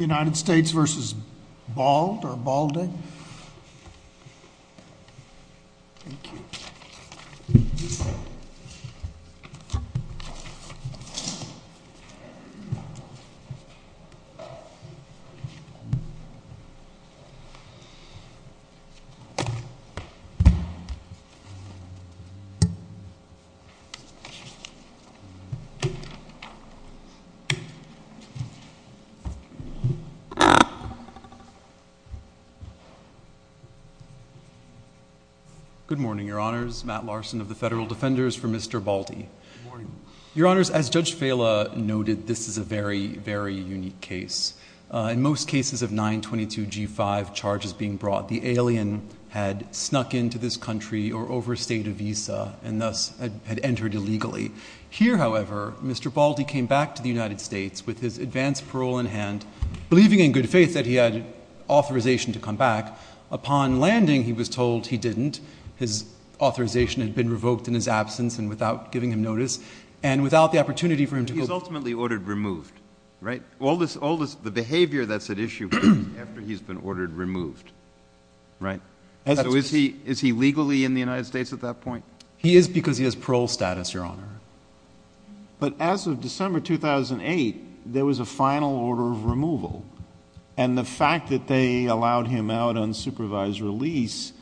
United States v. Bald or Balding. Good morning, Your Honors. Matt Larson of the Federal Defenders for Mr. Baldy. Your Honors, as Judge Vela noted, this is a very, very unique case. In most cases of 922G5 charges being brought, the alien had snuck into this country or overstayed a visa and thus had entered illegally. Here, however, Mr. Baldy came back to the United States with his advance parole in hand, believing in good faith that he had authorization to come back. Upon landing, he was told he didn't. His authorization had been revoked in his absence and without giving him notice and without the opportunity for him to go back. He was ultimately ordered removed, right? All this behavior that's at issue after he's been ordered removed, right? So is he legally in the United States at that point? He is because he has parole status, Your Honor. But as of December 2008, there was a final order of removal. And the fact that they allowed him out on supervised release,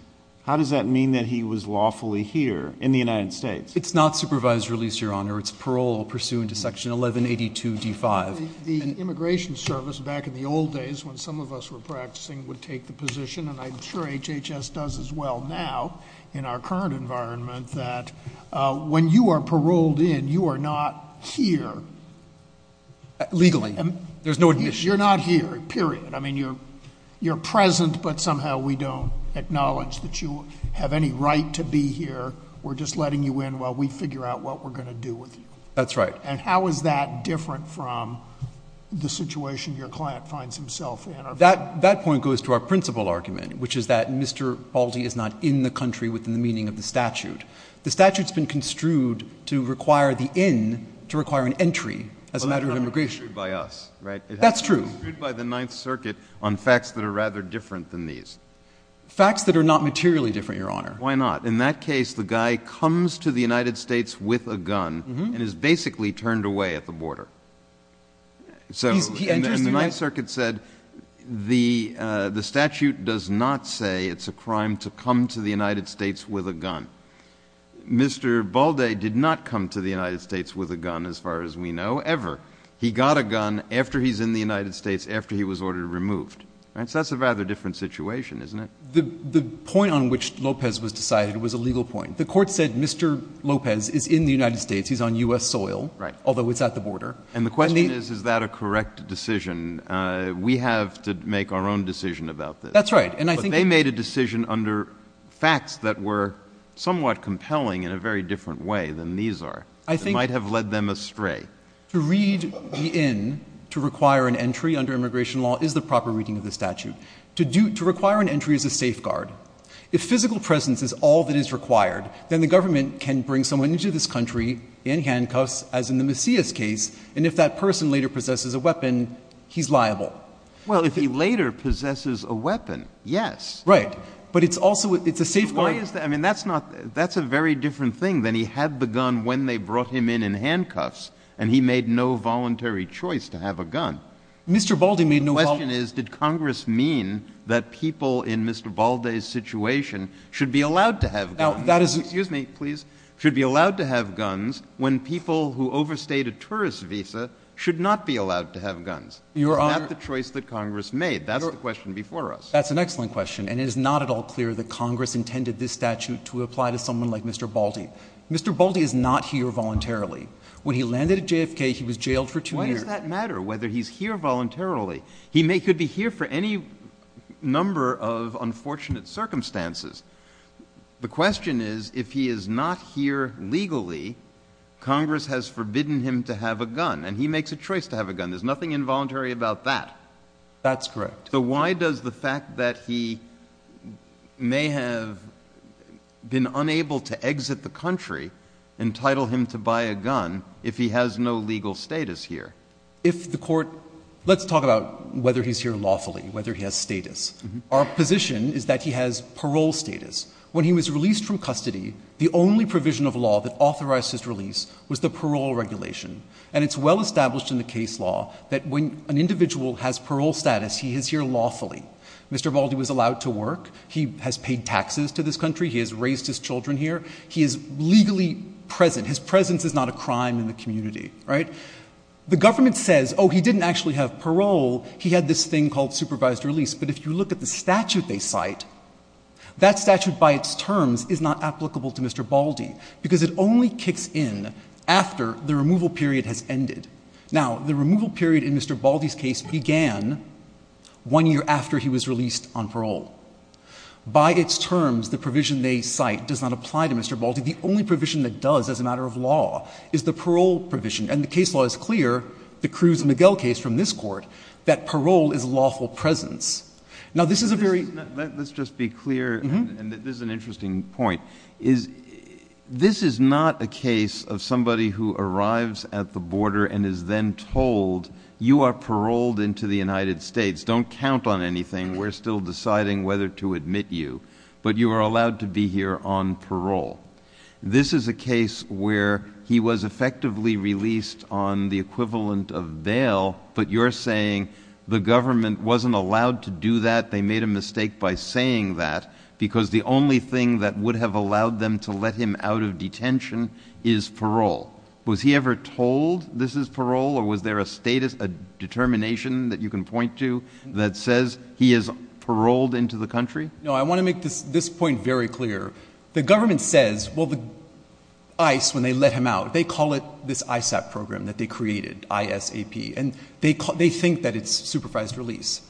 how does that mean that he was lawfully here in the United States? It's not supervised release, Your Honor. It's parole pursuant to Section 1182D5. The Immigration Service back in the old days when some of us were practicing would take the position, and I'm sure HHS does as well now in our current environment, that when you are paroled in, you are not here. Legally. There's no admission. You're not here, period. I mean, you're present, but somehow we don't acknowledge that you have any right to be here. We're just letting you in while we figure out what we're going to do with you. That's right. And how is that different from the situation your client finds himself in? That point goes to our principal argument, which is that Mr. Baldy is not in the country within the meaning of the statute. The statute's been construed to require the in to require an entry as a matter of immigration. But that's not construed by us, right? That's true. It's construed by the Ninth Circuit on facts that are rather different than these. Facts that are not materially different, Your Honor. Why not? In that case, the guy comes to the United States with a gun and is basically turned away at the border. So the Ninth Circuit said the statute does not say it's a crime to come to the United States with a gun. Mr. Baldy did not come to the United States with a gun, as far as we know, ever. He got a gun after he's in the United States, after he was ordered removed. So that's a rather different situation, isn't it? The point on which Lopez was decided was a legal point. The court said Mr. Lopez is in the United States. He's on U.S. soil. Right. Although it's at the border. And the question is, is that a correct decision? We have to make our own decision about this. That's right. But they made a decision under facts that were somewhat compelling in a very different way than these are. I think — It might have led them astray. To read the in to require an entry under immigration law is the proper reading of the statute. To do — to require an entry is a safeguard. If physical presence is all that is required, then the government can bring someone into this country in handcuffs, as in the Macias case, and if that person later possesses a weapon, he's liable. Well, if he later possesses a weapon, yes. Right. But it's also — it's a safeguard. Why is that? I mean, that's not — that's a very different thing than he had the gun when they brought him in in handcuffs, and he made no voluntary choice to have a gun. Mr. Baldy made no — The question is, did Congress mean that people in Mr. Baldy's situation should be allowed to have guns? Now, that is — Excuse me, please. Should be allowed to have guns when people who overstayed a tourist visa should not be allowed to have guns? Your Honor — Not the choice that Congress made. That's the question before us. That's an excellent question, and it is not at all clear that Congress intended this statute to apply to someone like Mr. Baldy. Mr. Baldy is not here voluntarily. When he landed at JFK, he was jailed for two years. Why does that matter, whether he's here voluntarily? He could be here for any number of unfortunate circumstances. The question is, if he is not here legally, Congress has forbidden him to have a gun, and he makes a choice to have a gun. There's nothing involuntary about that. That's correct. So why does the fact that he may have been unable to exit the country entitle him to buy a gun if he has no legal status here? If the court — let's talk about whether he's here lawfully, whether he has status. Our position is that he has parole status. When he was released from custody, the only provision of law that authorized his release was the parole regulation. And it's well established in the case law that when an individual has parole status, he is here lawfully. Mr. Baldy was allowed to work. He has paid taxes to this country. He has raised his children here. He is legally present. His presence is not a crime in the community, right? The government says, oh, he didn't actually have parole. He had this thing called supervised release. But if you look at the statute they cite, that statute by its terms is not applicable to Mr. Baldy because it only kicks in after the removal period has ended. Now, the removal period in Mr. Baldy's case began one year after he was released on parole. By its terms, the provision they cite does not apply to Mr. Baldy. The only provision that does as a matter of law is the parole provision. And the case law is clear, the Cruz-Miguel case from this court, that parole is lawful presence. Now, this is a very — Let's just be clear, and this is an interesting point. This is not a case of somebody who arrives at the border and is then told, you are paroled into the United States. Don't count on anything. We're still deciding whether to admit you. But you are allowed to be here on parole. This is a case where he was effectively released on the equivalent of bail, but you're saying the government wasn't allowed to do that. They made a mistake by saying that because the only thing that would have allowed them to let him out of detention is parole. Was he ever told this is parole, or was there a determination that you can point to that says he is paroled into the country? No, I want to make this point very clear. The government says, well, ICE, when they let him out, they call it this ISAP program that they created, I-S-A-P. And they think that it's supervised release.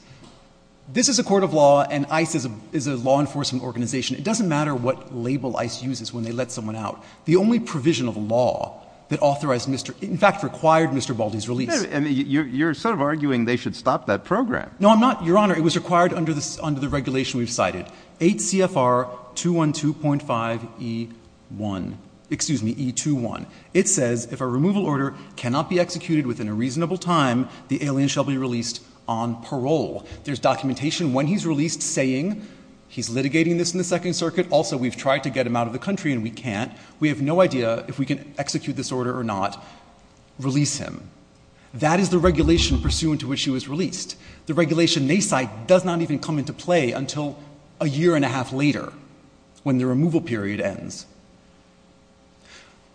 This is a court of law, and ICE is a law enforcement organization. It doesn't matter what label ICE uses when they let someone out. The only provision of law that authorized Mr. — in fact, required Mr. Baldy's release. And you're sort of arguing they should stop that program. No, I'm not, Your Honor. It was required under the regulation we've cited, 8 CFR 212.5E1 — excuse me, E21. It says if a removal order cannot be executed within a reasonable time, the alien shall be released on parole. There's documentation when he's released saying he's litigating this in the Second Circuit. Also, we've tried to get him out of the country, and we can't. We have no idea if we can execute this order or not. Release him. That is the regulation pursuant to which he was released. The regulation they cite does not even come into play until a year and a half later when the removal period ends.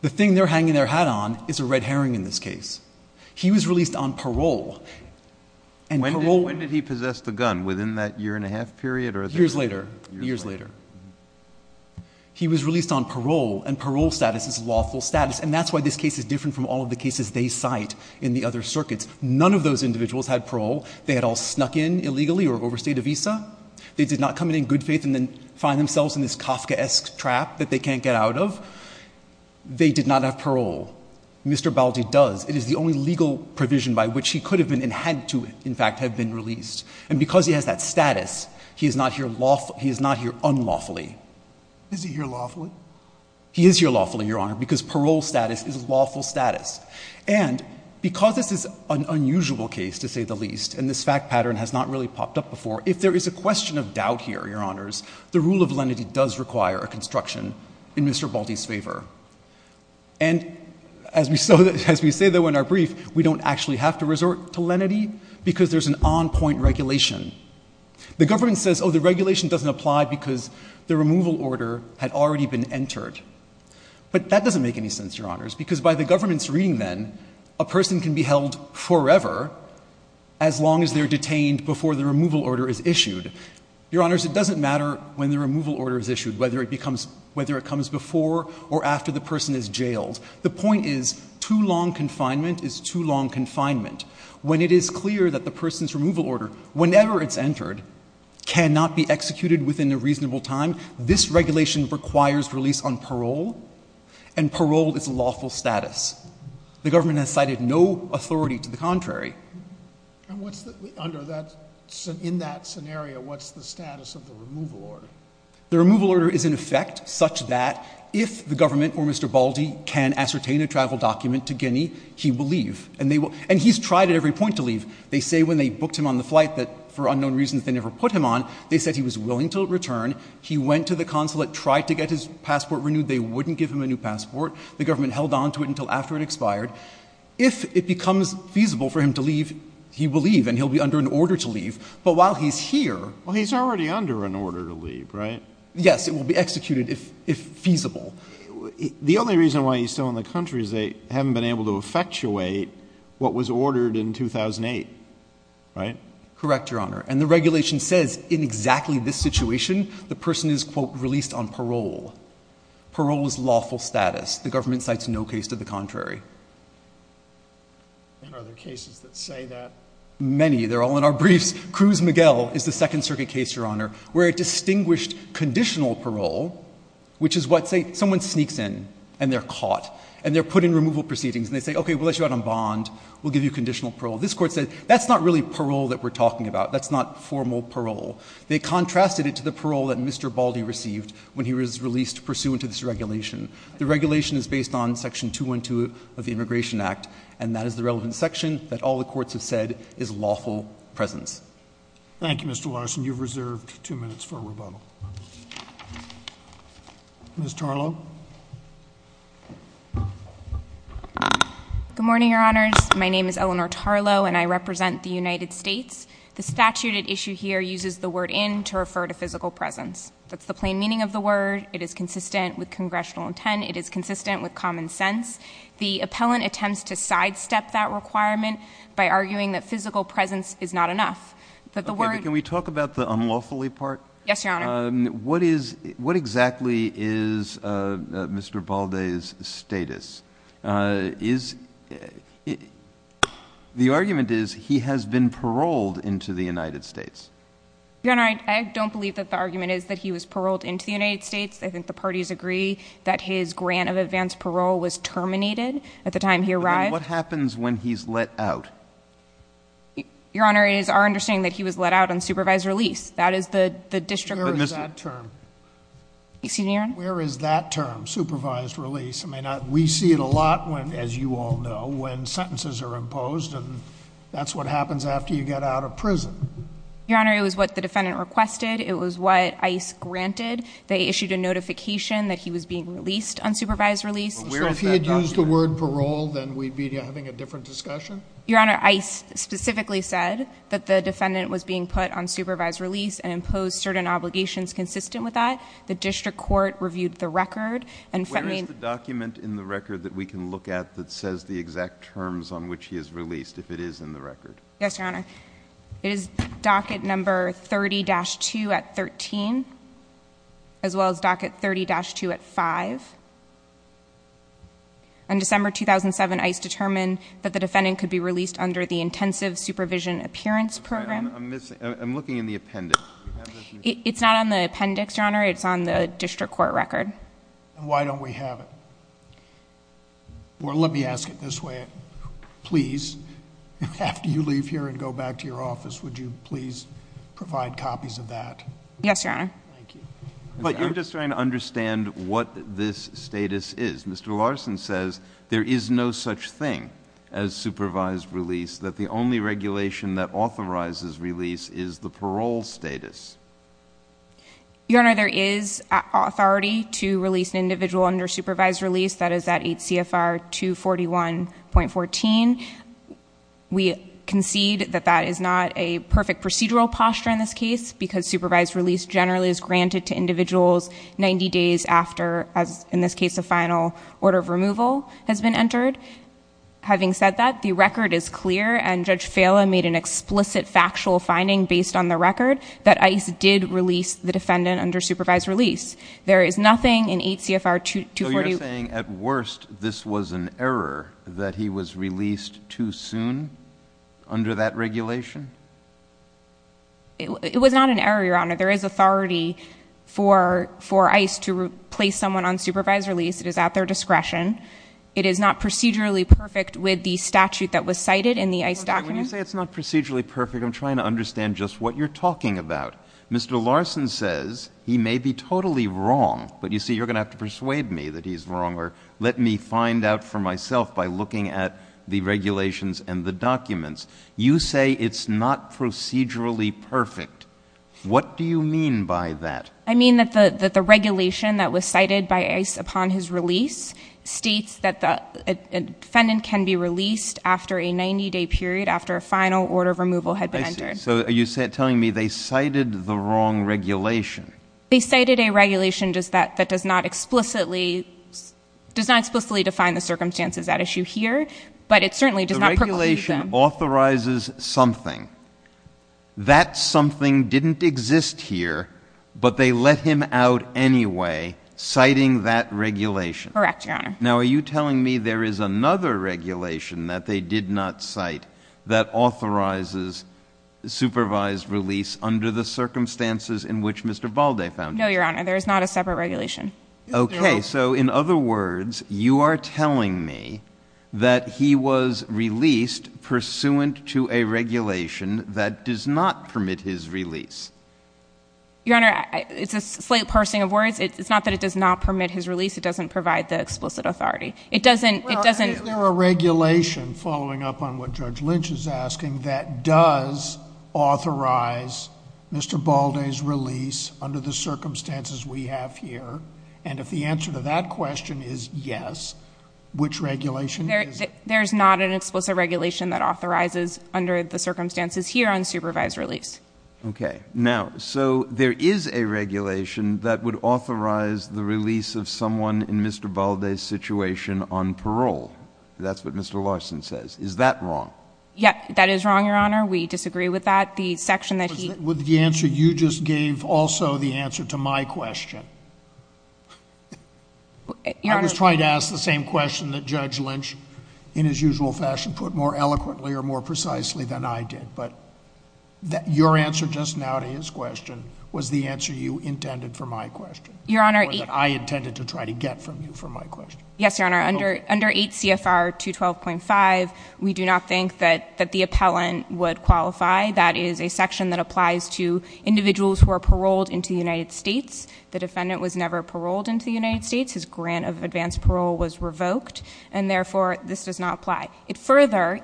The thing they're hanging their hat on is a red herring in this case. He was released on parole. And parole — When did he possess the gun? Within that year and a half period? Years later. Years later. He was released on parole, and parole status is lawful status. And that's why this case is different from all of the cases they cite in the other circuits. None of those individuals had parole. They had all snuck in illegally or overstayed a visa. They did not come in in good faith and then find themselves in this Kafkaesque trap that they can't get out of. They did not have parole. Mr. Baldi does. It is the only legal provision by which he could have been and had to, in fact, have been released. And because he has that status, he is not here unlawfully. Is he here lawfully? He is here lawfully, Your Honor, because parole status is lawful status. And because this is an unusual case, to say the least, and this fact pattern has not really popped up before, if there is a question of doubt here, Your Honors, the rule of lenity does require a construction in Mr. Baldi's favor. And as we say, though, in our brief, we don't actually have to resort to lenity because there's an on-point regulation. The government says, oh, the regulation doesn't apply because the removal order had already been entered. But that doesn't make any sense, Your Honors. Because by the government's reading then, a person can be held forever as long as they're detained before the removal order is issued. Your Honors, it doesn't matter when the removal order is issued, whether it comes before or after the person is jailed. The point is, too long confinement is too long confinement. When it is clear that the person's removal order, whenever it's entered, cannot be executed within a reasonable time, this regulation requires release on parole, and parole is a lawful status. The government has cited no authority to the contrary. And what's the — under that — in that scenario, what's the status of the removal order? The removal order is, in effect, such that if the government or Mr. Baldi can ascertain a travel document to Guinea, he will leave. And they will — and he's tried at every point to leave. They say when they booked him on the flight that, for unknown reasons, they never put him on. They said he was willing to return. He went to the consulate, tried to get his passport renewed. They wouldn't give him a new passport. The government held on to it until after it expired. If it becomes feasible for him to leave, he will leave, and he'll be under an order to leave. But while he's here — Well, he's already under an order to leave, right? Yes. It will be executed if feasible. The only reason why he's still in the country is they haven't been able to effectuate what was ordered in 2008, right? Correct, Your Honor. And the regulation says in exactly this situation, the person is, quote, released on parole. Parole is lawful status. The government cites no case to the contrary. And are there cases that say that? Many. They're all in our briefs. Cruz Miguel is the Second Circuit case, Your Honor, where it distinguished conditional parole, which is what, say, someone sneaks in and they're caught. And they're put in removal proceedings. And they say, okay, we'll let you out on bond. We'll give you conditional parole. This Court said that's not really parole that we're talking about. That's not formal parole. They contrasted it to the parole that Mr. Baldy received when he was released pursuant to this regulation. The regulation is based on Section 212 of the Immigration Act, and that is the relevant section that all the courts have said is lawful presence. Thank you, Mr. Larson. You've reserved two minutes for rebuttal. Ms. Tarlow? Good morning, Your Honors. My name is Eleanor Tarlow, and I represent the United States. The statute at issue here uses the word in to refer to physical presence. That's the plain meaning of the word. It is consistent with congressional intent. It is consistent with common sense. The appellant attempts to sidestep that requirement by arguing that physical presence is not enough. Can we talk about the unlawfully part? Yes, Your Honor. What exactly is Mr. Baldy's status? The argument is he has been paroled into the United States. Your Honor, I don't believe that the argument is that he was paroled into the United States. I think the parties agree that his grant of advanced parole was terminated at the time he arrived. What happens when he's let out? Your Honor, it is our understanding that he was let out on supervised release. That is the district. Where is that term? Excuse me, Your Honor? Where is that term, supervised release? We see it a lot, as you all know, when sentences are imposed. That's what happens after you get out of prison. Your Honor, it was what the defendant requested. It was what ICE granted. They issued a notification that he was being released on supervised release. So if he had used the word parole, then we'd be having a different discussion? Your Honor, ICE specifically said that the defendant was being put on supervised release and imposed certain obligations consistent with that. The district court reviewed the record. Where is the document in the record that we can look at that says the exact terms on which he is released, if it is in the record? Yes, Your Honor. It is docket number 30-2 at 13, as well as docket 30-2 at 5. On December 2007, ICE determined that the defendant could be released under the intensive supervision appearance program. I'm looking in the appendix. It's not on the appendix, Your Honor. It's on the district court record. Why don't we have it? Or let me ask it this way. Please, after you leave here and go back to your office, would you please provide copies of that? Yes, Your Honor. Thank you. But you're just trying to understand what this status is. Mr. Larson says there is no such thing as supervised release, that the only regulation that authorizes release is the parole status. Your Honor, there is authority to release an individual under supervised release. That is at 8 CFR 241.14. We concede that that is not a perfect procedural posture in this case because supervised release generally is granted to individuals 90 days after, in this case, a final order of removal has been entered. Having said that, the record is clear, and Judge Fala made an explicit factual finding based on the record that ICE did release the defendant under supervised release. There is nothing in 8 CFR 241... So you're saying, at worst, this was an error, that he was released too soon under that regulation? It was not an error, Your Honor. There is authority for ICE to place someone on supervised release. It is at their discretion. It is not procedurally perfect with the statute that was cited in the ICE document? When you say it's not procedurally perfect, I'm trying to understand just what you're talking about. Mr. Larson says he may be totally wrong, but you see, you're going to have to persuade me that he's wrong or let me find out for myself by looking at the regulations and the documents. You say it's not procedurally perfect. What do you mean by that? I mean that the regulation that was cited by ICE upon his release states that the defendant can be released after a 90-day period after a final order of removal had been entered. I see. So are you telling me they cited the wrong regulation? They cited a regulation that does not explicitly define the circumstances at issue here, but it certainly does not preclude them. The regulation authorizes something. That something didn't exist here, but they let him out anyway, citing that regulation. Correct, Your Honor. Now are you telling me there is another regulation that they did not cite that authorizes supervised release under the circumstances in which Mr. Balde found himself? No, Your Honor. There is not a separate regulation. Okay, so in other words, you are telling me that he was released pursuant to a regulation that does not permit his release. Your Honor, it's a slight parsing of words. It's not that it does not permit his release. It doesn't provide the explicit authority. Well, is there a regulation, following up on what Judge Lynch is asking, that does authorize Mr. Balde's release under the circumstances we have here? And if the answer to that question is yes, which regulation is it? There is not an explicit regulation that authorizes under the circumstances here unsupervised release. Okay. Now, so there is a regulation that would authorize the release of someone in Mr. Balde's situation on parole. That's what Mr. Larson says. Is that wrong? Yes, that is wrong, Your Honor. We disagree with that. The section that he— Was the answer you just gave also the answer to my question? Your Honor— I was trying to ask the same question that Judge Lynch, in his usual fashion, put more eloquently or more precisely than I did. But your answer just now to his question was the answer you intended for my question. Your Honor— Or that I intended to try to get from you for my question. Yes, Your Honor. Under 8 CFR 212.5, we do not think that the appellant would qualify. That is a section that applies to individuals who are paroled into the United States. The defendant was never paroled into the United States. His grant of advanced parole was revoked, and therefore this does not apply. Further,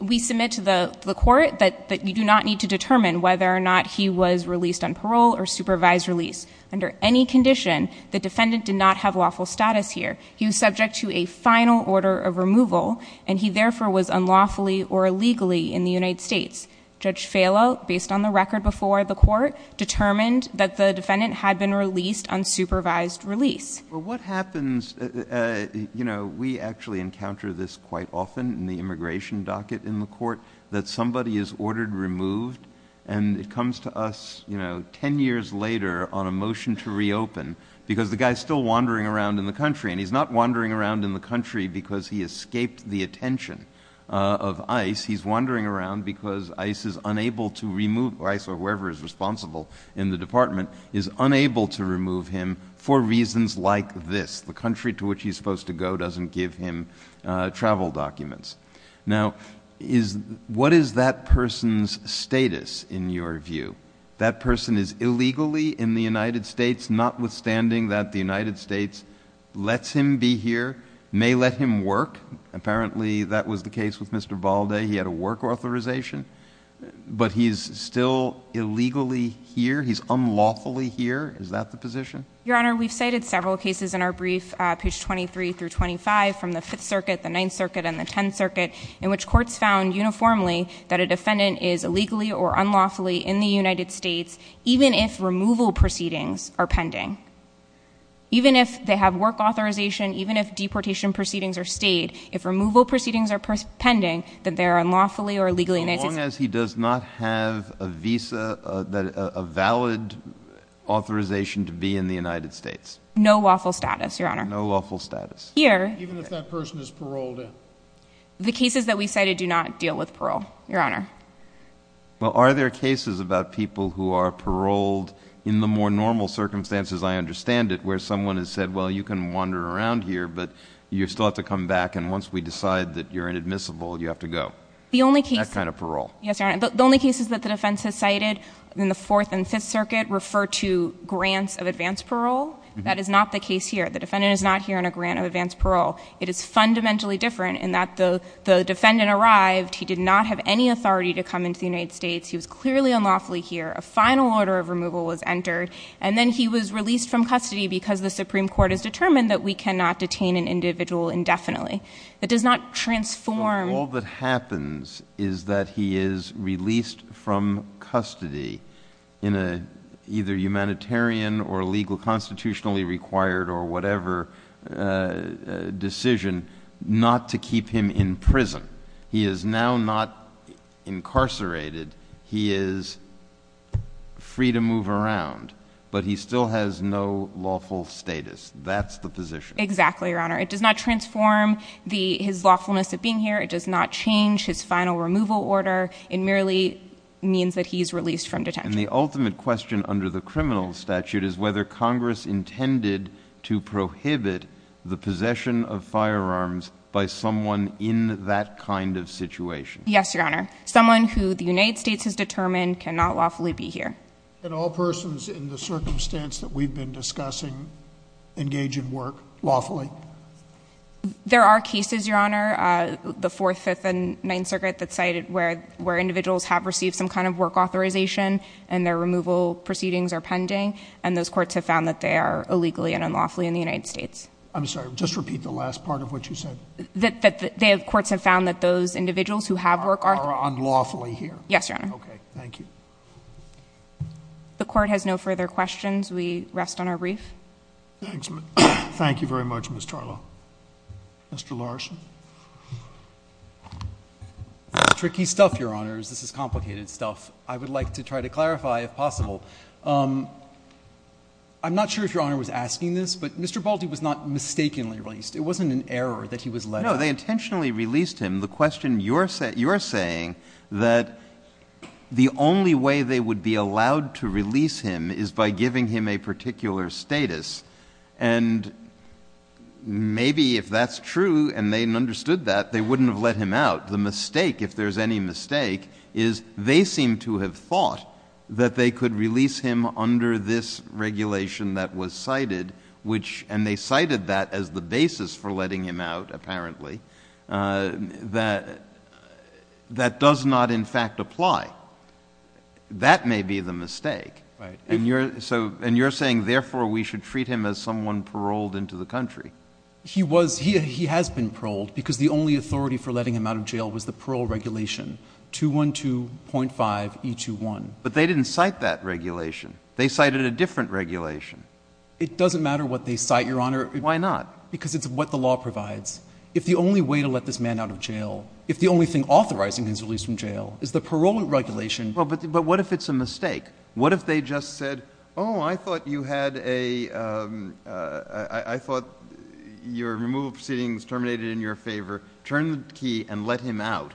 we submit to the court that you do not need to determine whether or not he was released on parole or supervised release. Under any condition, the defendant did not have lawful status here. He was subject to a final order of removal, and he therefore was unlawfully or illegally in the United States. Judge Falo, based on the record before the court, determined that the defendant had been released on supervised release. Well, what happens, you know, we actually encounter this quite often in the immigration docket in the court, that somebody is ordered removed, and it comes to us, you know, 10 years later on a motion to reopen because the guy is still wandering around in the country, and he's not wandering around in the country because he escaped the attention of ICE. He's wandering around because ICE is unable to remove, or ICE or whoever is responsible in the department, is unable to remove him for reasons like this. The country to which he's supposed to go doesn't give him travel documents. Now, what is that person's status in your view? That person is illegally in the United States, notwithstanding that the United States lets him be here, may let him work. Apparently that was the case with Mr. Balde. He had a work authorization, but he's still illegally here. He's unlawfully here. Is that the position? Your Honor, we've cited several cases in our brief, page 23 through 25, from the Fifth Circuit, the Ninth Circuit, and the Tenth Circuit, in which courts found uniformly that a defendant is illegally or unlawfully in the United States even if removal proceedings are pending. Even if they have work authorization, even if deportation proceedings are stayed, if removal proceedings are pending, that they are unlawfully or illegally in the United States. So long as he does not have a visa, a valid authorization to be in the United States. No lawful status, Your Honor. No lawful status. Here. Even if that person is paroled. The cases that we cited do not deal with parole, Your Honor. Well, are there cases about people who are paroled in the more normal circumstances, I understand it, where someone has said, well, you can wander around here, but you still have to come back, and once we decide that you're inadmissible, you have to go? The only case... That kind of parole. Yes, Your Honor. The only cases that the defense has cited in the Fourth and Fifth Circuit refer to grants of advance parole. That is not the case here. The defendant is not here on a grant of advance parole. It is fundamentally different in that the defendant arrived, he did not have any authority to come into the United States, he was clearly unlawfully here, a final order of removal was entered, and then he was released from custody because the Supreme Court has determined that we cannot detain an individual indefinitely. That does not transform... decision not to keep him in prison. He is now not incarcerated. He is free to move around, but he still has no lawful status. That's the position. Exactly, Your Honor. It does not transform his lawfulness of being here. It does not change his final removal order. It merely means that he is released from detention. And the ultimate question under the criminal statute is whether Congress intended to prohibit the possession of firearms by someone in that kind of situation. Yes, Your Honor. Someone who the United States has determined cannot lawfully be here. Can all persons in the circumstance that we've been discussing engage in work lawfully? There are cases, Your Honor, the Fourth, Fifth, and Ninth Circuit that cited where individuals have received some kind of work authorization and their removal proceedings are pending, and those courts have found that they are illegally and unlawfully in the United States. I'm sorry, just repeat the last part of what you said. That the courts have found that those individuals who have work are... Are unlawfully here. Yes, Your Honor. Okay, thank you. The Court has no further questions. We rest on our brief. Thank you very much, Ms. Tarlow. Mr. Larson. It's tricky stuff, Your Honors. This is complicated stuff. I would like to try to clarify if possible. I'm not sure if Your Honor was asking this, but Mr. Baldy was not mistakenly released. It wasn't an error that he was let out. No, they intentionally released him. The question you're saying that the only way they would be allowed to release him is by giving him a particular status. And maybe if that's true and they understood that, they wouldn't have let him out. The mistake, if there's any mistake, is they seem to have thought that they could release him under this regulation that was cited, and they cited that as the basis for letting him out, apparently, that does not, in fact, apply. That may be the mistake. And you're saying, therefore, we should treat him as someone paroled into the country. He has been paroled because the only authority for letting him out of jail was the parole regulation, 212.5E21. But they didn't cite that regulation. They cited a different regulation. It doesn't matter what they cite, Your Honor. Why not? Because it's what the law provides. If the only way to let this man out of jail, if the only thing authorizing his release from jail is the parole regulation. But what if it's a mistake? What if they just said, oh, I thought you had a, I thought your removal proceedings terminated in your favor. Turn the key and let him out.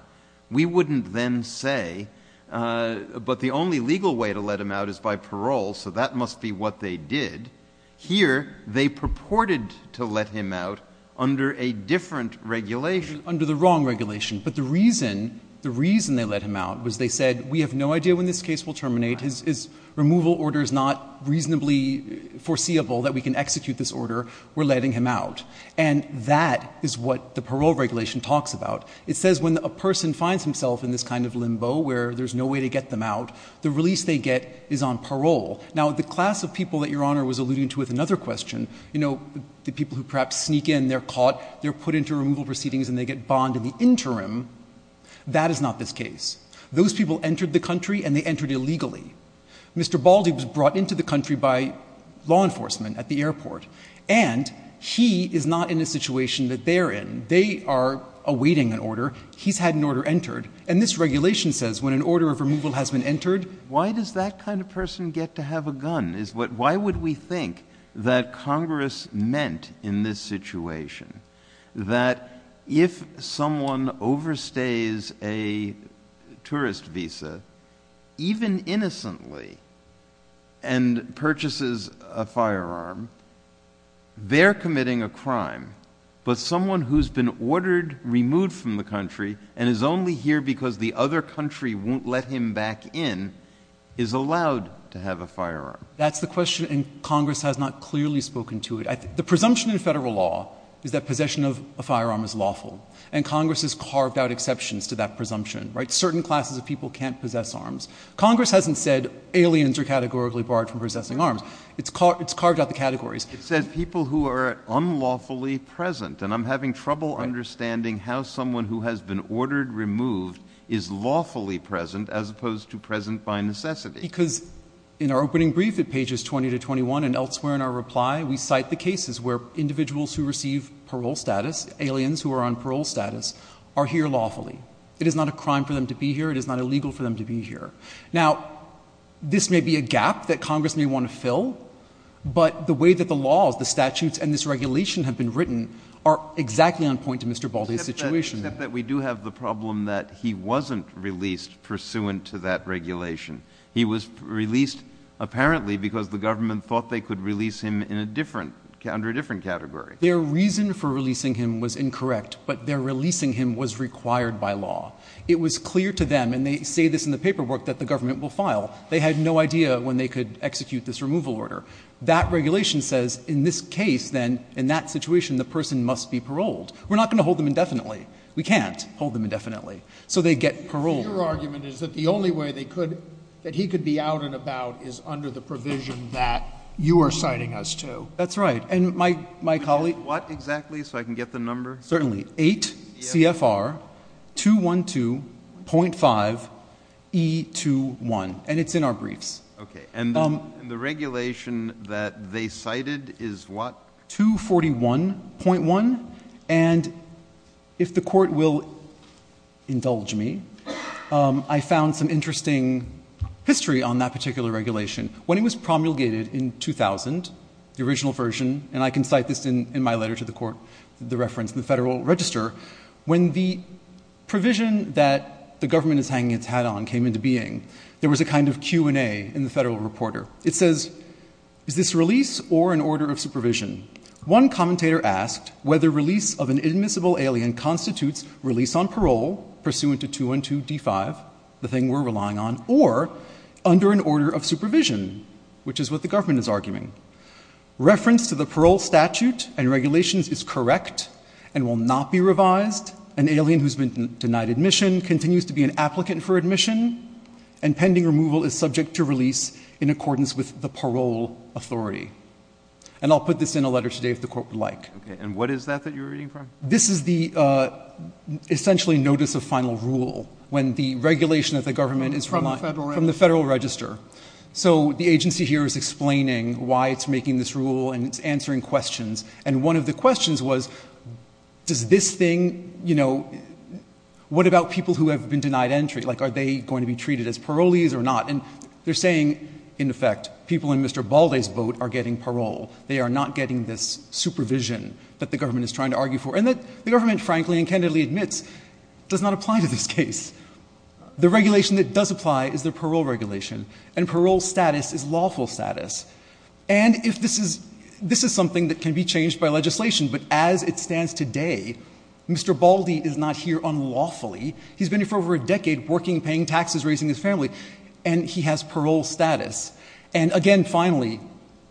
We wouldn't then say, but the only legal way to let him out is by parole, so that must be what they did. Here, they purported to let him out under a different regulation. Under the wrong regulation. But the reason, the reason they let him out was they said, we have no idea when this case will terminate. His removal order is not reasonably foreseeable that we can execute this order. We're letting him out. And that is what the parole regulation talks about. It says when a person finds himself in this kind of limbo where there's no way to get them out, the release they get is on parole. Now, the class of people that Your Honor was alluding to with another question, you know, the people who perhaps sneak in, they're caught, they're put into removal proceedings and they get bond in the interim, that is not this case. Those people entered the country and they entered illegally. Mr. Baldy was brought into the country by law enforcement at the airport. And he is not in a situation that they're in. They are awaiting an order. He's had an order entered. And this regulation says when an order of removal has been entered. Why does that kind of person get to have a gun? Why would we think that Congress meant in this situation that if someone overstays a tourist visa, even innocently, and purchases a firearm, they're committing a crime. But someone who's been ordered removed from the country and is only here because the other country won't let him back in is allowed to have a firearm. That's the question. And Congress has not clearly spoken to it. The presumption in federal law is that possession of a firearm is lawful. And Congress has carved out exceptions to that presumption. Certain classes of people can't possess arms. Congress hasn't said aliens are categorically barred from possessing arms. It's carved out the categories. It says people who are unlawfully present. And I'm having trouble understanding how someone who has been ordered removed is lawfully present as opposed to present by necessity. Because in our opening brief at pages 20 to 21 and elsewhere in our reply, we cite the cases where individuals who receive parole status, aliens who are on parole status, are here lawfully. It is not a crime for them to be here. It is not illegal for them to be here. Now, this may be a gap that Congress may want to fill, but the way that the laws, the statutes, and this regulation have been written are exactly on point to Mr. Baldy's situation. Except that we do have the problem that he wasn't released pursuant to that regulation. He was released apparently because the government thought they could release him in a different – under a different category. Their reason for releasing him was incorrect, but their releasing him was required by law. It was clear to them, and they say this in the paperwork, that the government will file. They had no idea when they could execute this removal order. That regulation says in this case then, in that situation, the person must be paroled. We're not going to hold them indefinitely. We can't hold them indefinitely. So they get paroled. Your argument is that the only way they could – that he could be out and about is under the provision that you are citing us to. That's right. And my colleague – What exactly so I can get the number? Certainly. 8 CFR 212.5 E21. And it's in our briefs. Okay. And the regulation that they cited is what? 241.1. And if the Court will indulge me, I found some interesting history on that particular regulation. When it was promulgated in 2000, the original version, and I can cite this in my letter to the Court, the reference in the Federal Register, when the provision that the government is hanging its hat on came into being, there was a kind of Q&A in the Federal Reporter. It says, is this release or an order of supervision? One commentator asked whether release of an inadmissible alien constitutes release on parole, pursuant to 212.d.5, the thing we're relying on, or under an order of supervision, which is what the government is arguing. Reference to the parole statute and regulations is correct and will not be revised. An alien who's been denied admission continues to be an applicant for admission, and pending removal is subject to release in accordance with the parole authority. And I'll put this in a letter today if the Court would like. Okay. And what is that that you're reading from? This is the essentially notice of final rule when the regulation of the government is from the Federal Register. So the agency here is explaining why it's making this rule and it's answering questions. And one of the questions was, does this thing, you know, what about people who have been denied entry? Like, are they going to be treated as parolees or not? And they're saying, in effect, people in Mr. Balde's boat are getting parole. They are not getting this supervision that the government is trying to argue for, and that the government, frankly and candidly admits, does not apply to this case. The regulation that does apply is the parole regulation, and parole status is lawful status. And if this is something that can be changed by legislation, but as it stands today, Mr. Balde is not here unlawfully. He's been here for over a decade working, paying taxes, raising his family, and he has parole status. And again, finally,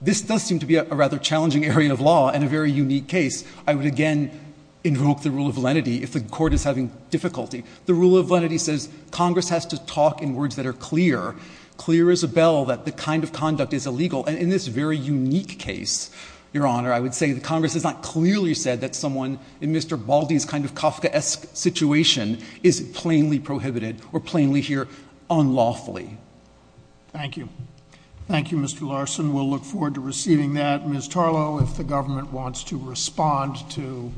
this does seem to be a rather challenging area of law and a very unique case. I would again invoke the rule of lenity if the Court is having difficulty. The rule of lenity says Congress has to talk in words that are clear, clear as a bell that the kind of conduct is illegal. And in this very unique case, Your Honor, I would say that Congress has not clearly said that someone in Mr. Balde's kind of Kafkaesque situation is plainly prohibited or plainly here unlawfully. Thank you. Thank you, Mr. Larson. We'll look forward to receiving that. Ms. Tarlow, if the government wants to respond to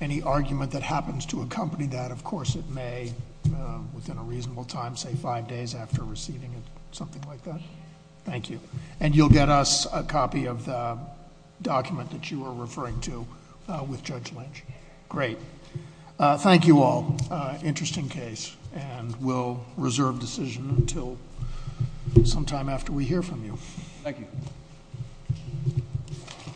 any argument that happens to accompany that, of course it may within a reasonable time, say five days after receiving it, something like that. Thank you. And you'll get us a copy of the document that you were referring to with Judge Lynch. Great. Thank you all. Interesting case, and we'll reserve decision until sometime after we hear from you. Thank you.